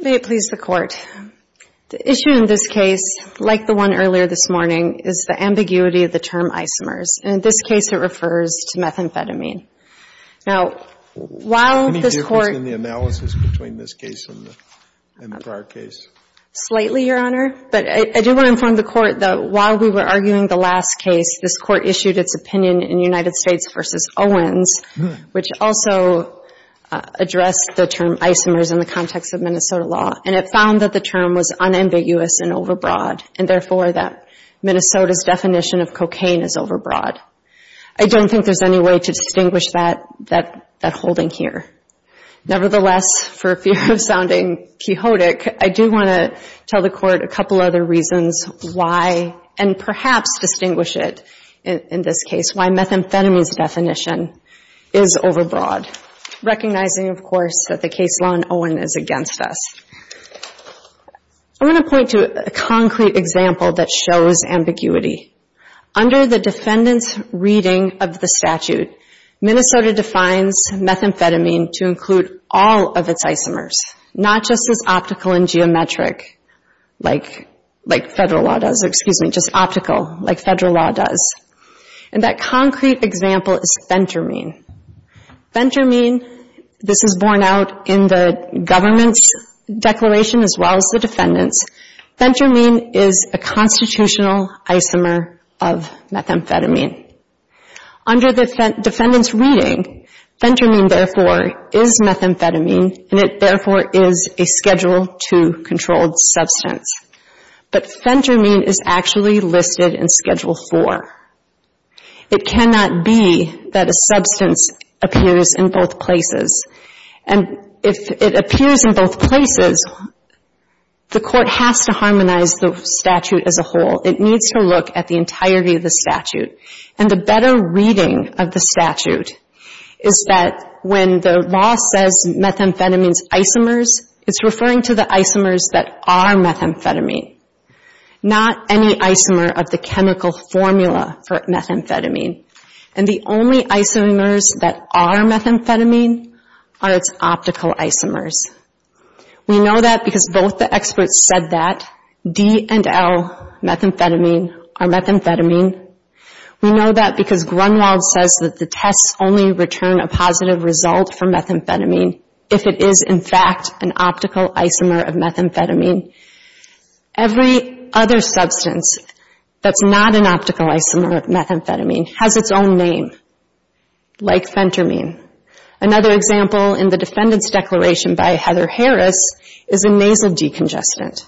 May it please the Court, the issue in this case, like the one earlier this morning, is the ambiguity of the term isomers. And in this case, it refers to methamphetamine. Now, while this Court — Any difference in the analysis between this case and the prior case? Slightly, Your Honor. But I do want to inform the Court that while we were arguing the last case, this Court also addressed the term isomers in the context of Minnesota law, and it found that the term was unambiguous and overbroad, and therefore that Minnesota's definition of cocaine is overbroad. I don't think there's any way to distinguish that holding here. Nevertheless, for fear of sounding chaotic, I do want to tell the Court a couple other reasons why, and perhaps distinguish it in this case, why methamphetamine's definition is overbroad, recognizing, of course, that the case law in Owen is against us. I want to point to a concrete example that shows ambiguity. Under the defendant's reading of the statute, Minnesota defines methamphetamine to include all of its isomers, not just as optical and geometric, like federal law does — excuse me, just optical, like federal law does. And that concrete example is phentermine. Phentermine, this is borne out in the government's declaration as well as the defendant's. Phentermine is a constitutional isomer of methamphetamine. Under the defendant's reading, phentermine, therefore, is methamphetamine, and it, therefore, is a Schedule II controlled substance. But phentermine is actually listed in Schedule IV. It cannot be that a substance appears in both places. And if it appears in both places, the Court has to harmonize the statute as a whole. It needs to look at the entirety of the statute. And the better reading of the statute is that when the law says methamphetamine's isomers, it's referring to the isomers that are methamphetamine, not any isomer of the chemical formula for methamphetamine. And the only isomers that are methamphetamine are its optical isomers. We know that because both the experts said that. D and L, methamphetamine, are methamphetamine. We know that because Grunwald says that the tests only return a positive result for methamphetamine if it is, in fact, an optical isomer of methamphetamine. Every other substance that's not an optical isomer of methamphetamine has its own name, like phentermine. Another example in the Defendant's Declaration by Heather Harris is a nasal decongestant,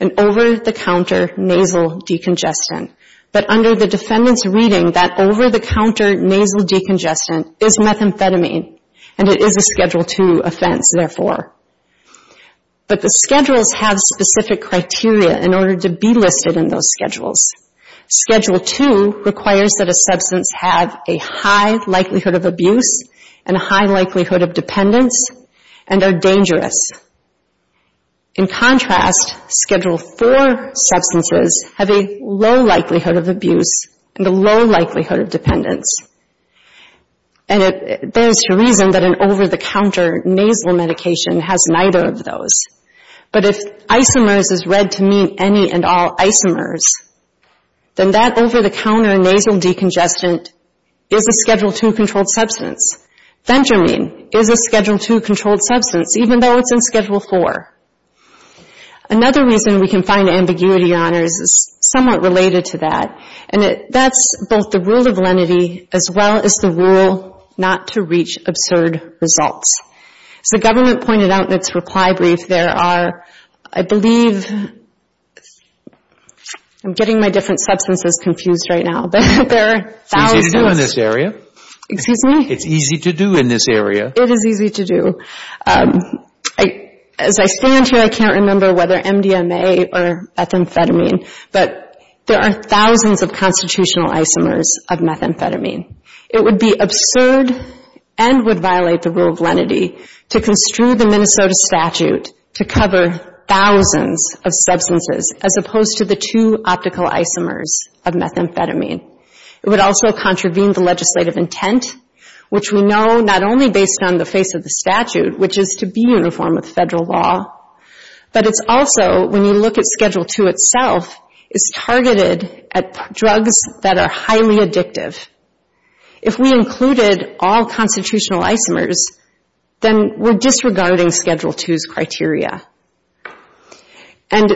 an over-the-counter nasal decongestant. But under the Defendant's reading, that over-the-counter nasal decongestant is methamphetamine. And it is a Schedule II offense, therefore. But the schedules have specific criteria in order to be listed in those schedules. Schedule II requires that a substance have a high likelihood of abuse and a high likelihood of dependence and are dangerous. In contrast, Schedule IV substances have a low likelihood of abuse and a low likelihood of dependence. And it bears to reason that an over-the-counter nasal medication has neither of those. But if isomers is read to mean any and all isomers, then that over-the-counter nasal decongestant is a Schedule II-controlled substance. Phentermine is a Schedule II-controlled substance, even though it's in Schedule IV. Another reason we can find ambiguity on it is somewhat related to that. And that's both the rule of lenity as well as the rule not to reach absurd results. As the government pointed out in its reply brief, there are, I believe, I'm getting my different substances confused right now. There are thousands. It's easy to do in this area. Excuse me? It's easy to do in this area. It is easy to do. As I stand here, I can't remember whether MDMA or methamphetamine, but there are thousands of constitutional isomers of methamphetamine. It would be absurd and would violate the rule of lenity to construe the Minnesota statute to cover thousands of substances as opposed to the two optical isomers of methamphetamine. It would also contravene the legislative intent, which we know not only based on the face of the statute, which is to be uniform with federal law, but it's also, when you look at Schedule 2 itself, it's targeted at drugs that are highly addictive. If we included all constitutional isomers, then we're disregarding Schedule 2's criteria. And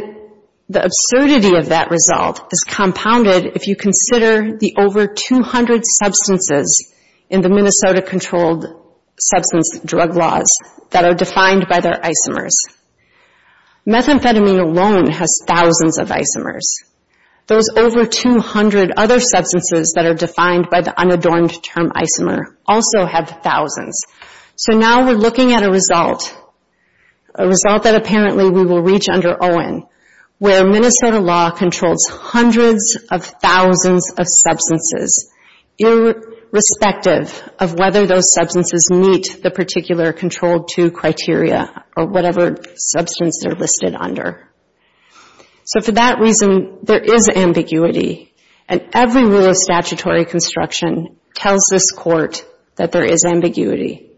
the absurdity of that result is compounded if you consider the over 200 substances in the Minnesota controlled substance drug laws that are defined by their isomers. Methamphetamine alone has thousands of isomers. Those over 200 other substances that are defined by the unadorned term isomer also have thousands. So now we're looking at a result, a result that apparently we will reach under Owen, where Minnesota law controls hundreds of thousands of substances irrespective of whether those are substances that are listed under. So for that reason, there is ambiguity. And every rule of statutory construction tells this Court that there is ambiguity,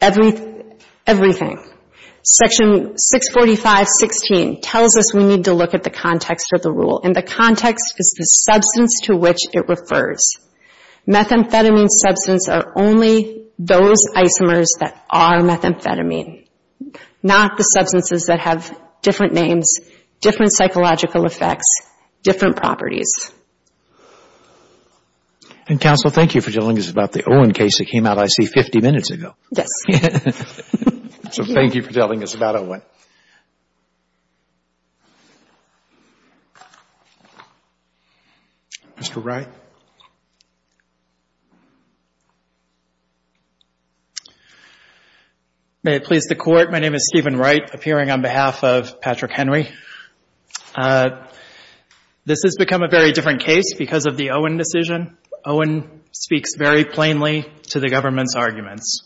everything. Section 645.16 tells us we need to look at the context of the rule, and the context is the substance to which it refers. Methamphetamine substance are only those isomers that are methamphetamine, not the substances that have different names, different psychological effects, different properties. And counsel, thank you for telling us about the Owen case that came out, I see, 50 minutes ago. Yes. So thank you for telling us about Owen. Mr. Wright. May it please the Court, my name is Stephen Wright, appearing on behalf of Patrick Henry. This has become a very different case because of the Owen decision. Owen speaks very plainly to the government's arguments.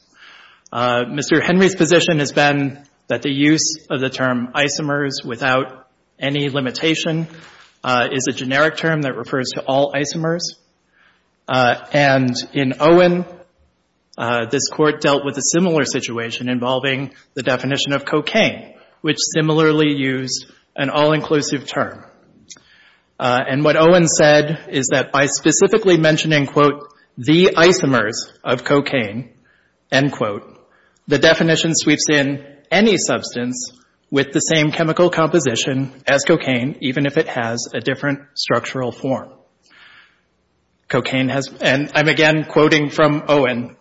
Mr. Henry's position has been that the use of the term isomers without any limitation is a generic term that refers to all isomers. And in Owen, this Court dealt with a similar situation involving the definition of cocaine, which similarly used an all-inclusive term. And what Owen said is that by specifically mentioning, quote, the isomers of cocaine, end quote, the definition sweeps in any substance with the same chemical composition as cocaine, even if it has a different structural form. Cocaine has, and I'm again quoting from Owen,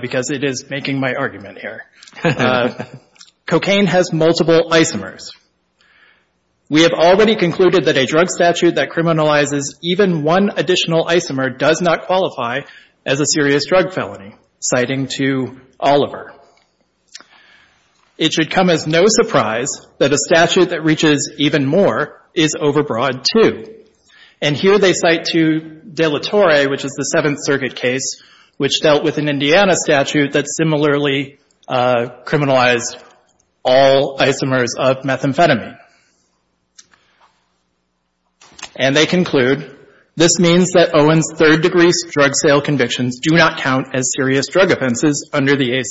because it is making my argument here. Cocaine has multiple isomers. We have already concluded that a drug statute that criminalizes even one additional isomer does not qualify as a serious drug felony, citing to Oliver. It should come as no surprise that a statute that reaches even more is overbroad, too. And here they cite to De La Torre, which is the Seventh Circuit case, which dealt with methamphetamine. And they conclude, this means that Owen's third-degree drug sale convictions do not count as serious drug offenses under the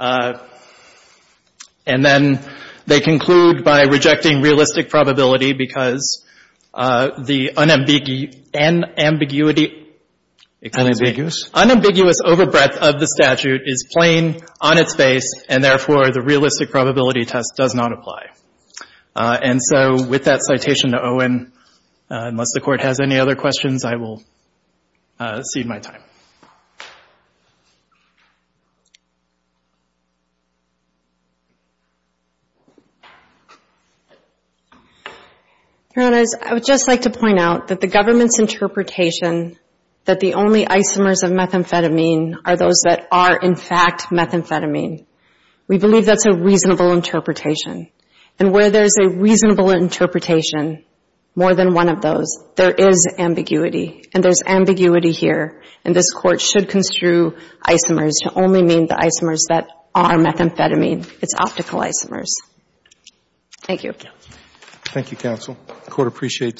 ACCA. And then they conclude by rejecting realistic probability because the unambiguity — Unambiguous? Unambiguous overbreadth of the statute is plain on its face, and therefore the realistic probability test does not apply. And so with that citation to Owen, unless the Court has any other questions, I will cede my time. Your Honors, I would just like to point out that the government's interpretation that the only isomers of methamphetamine are those that are, in fact, methamphetamine. We believe that's a reasonable interpretation. And where there's a reasonable interpretation, more than one of those, there is ambiguity. And there's ambiguity here. And this Court should construe isomers to only mean the isomers that are methamphetamine. It's optical isomers. Thank you. The Court appreciates your time.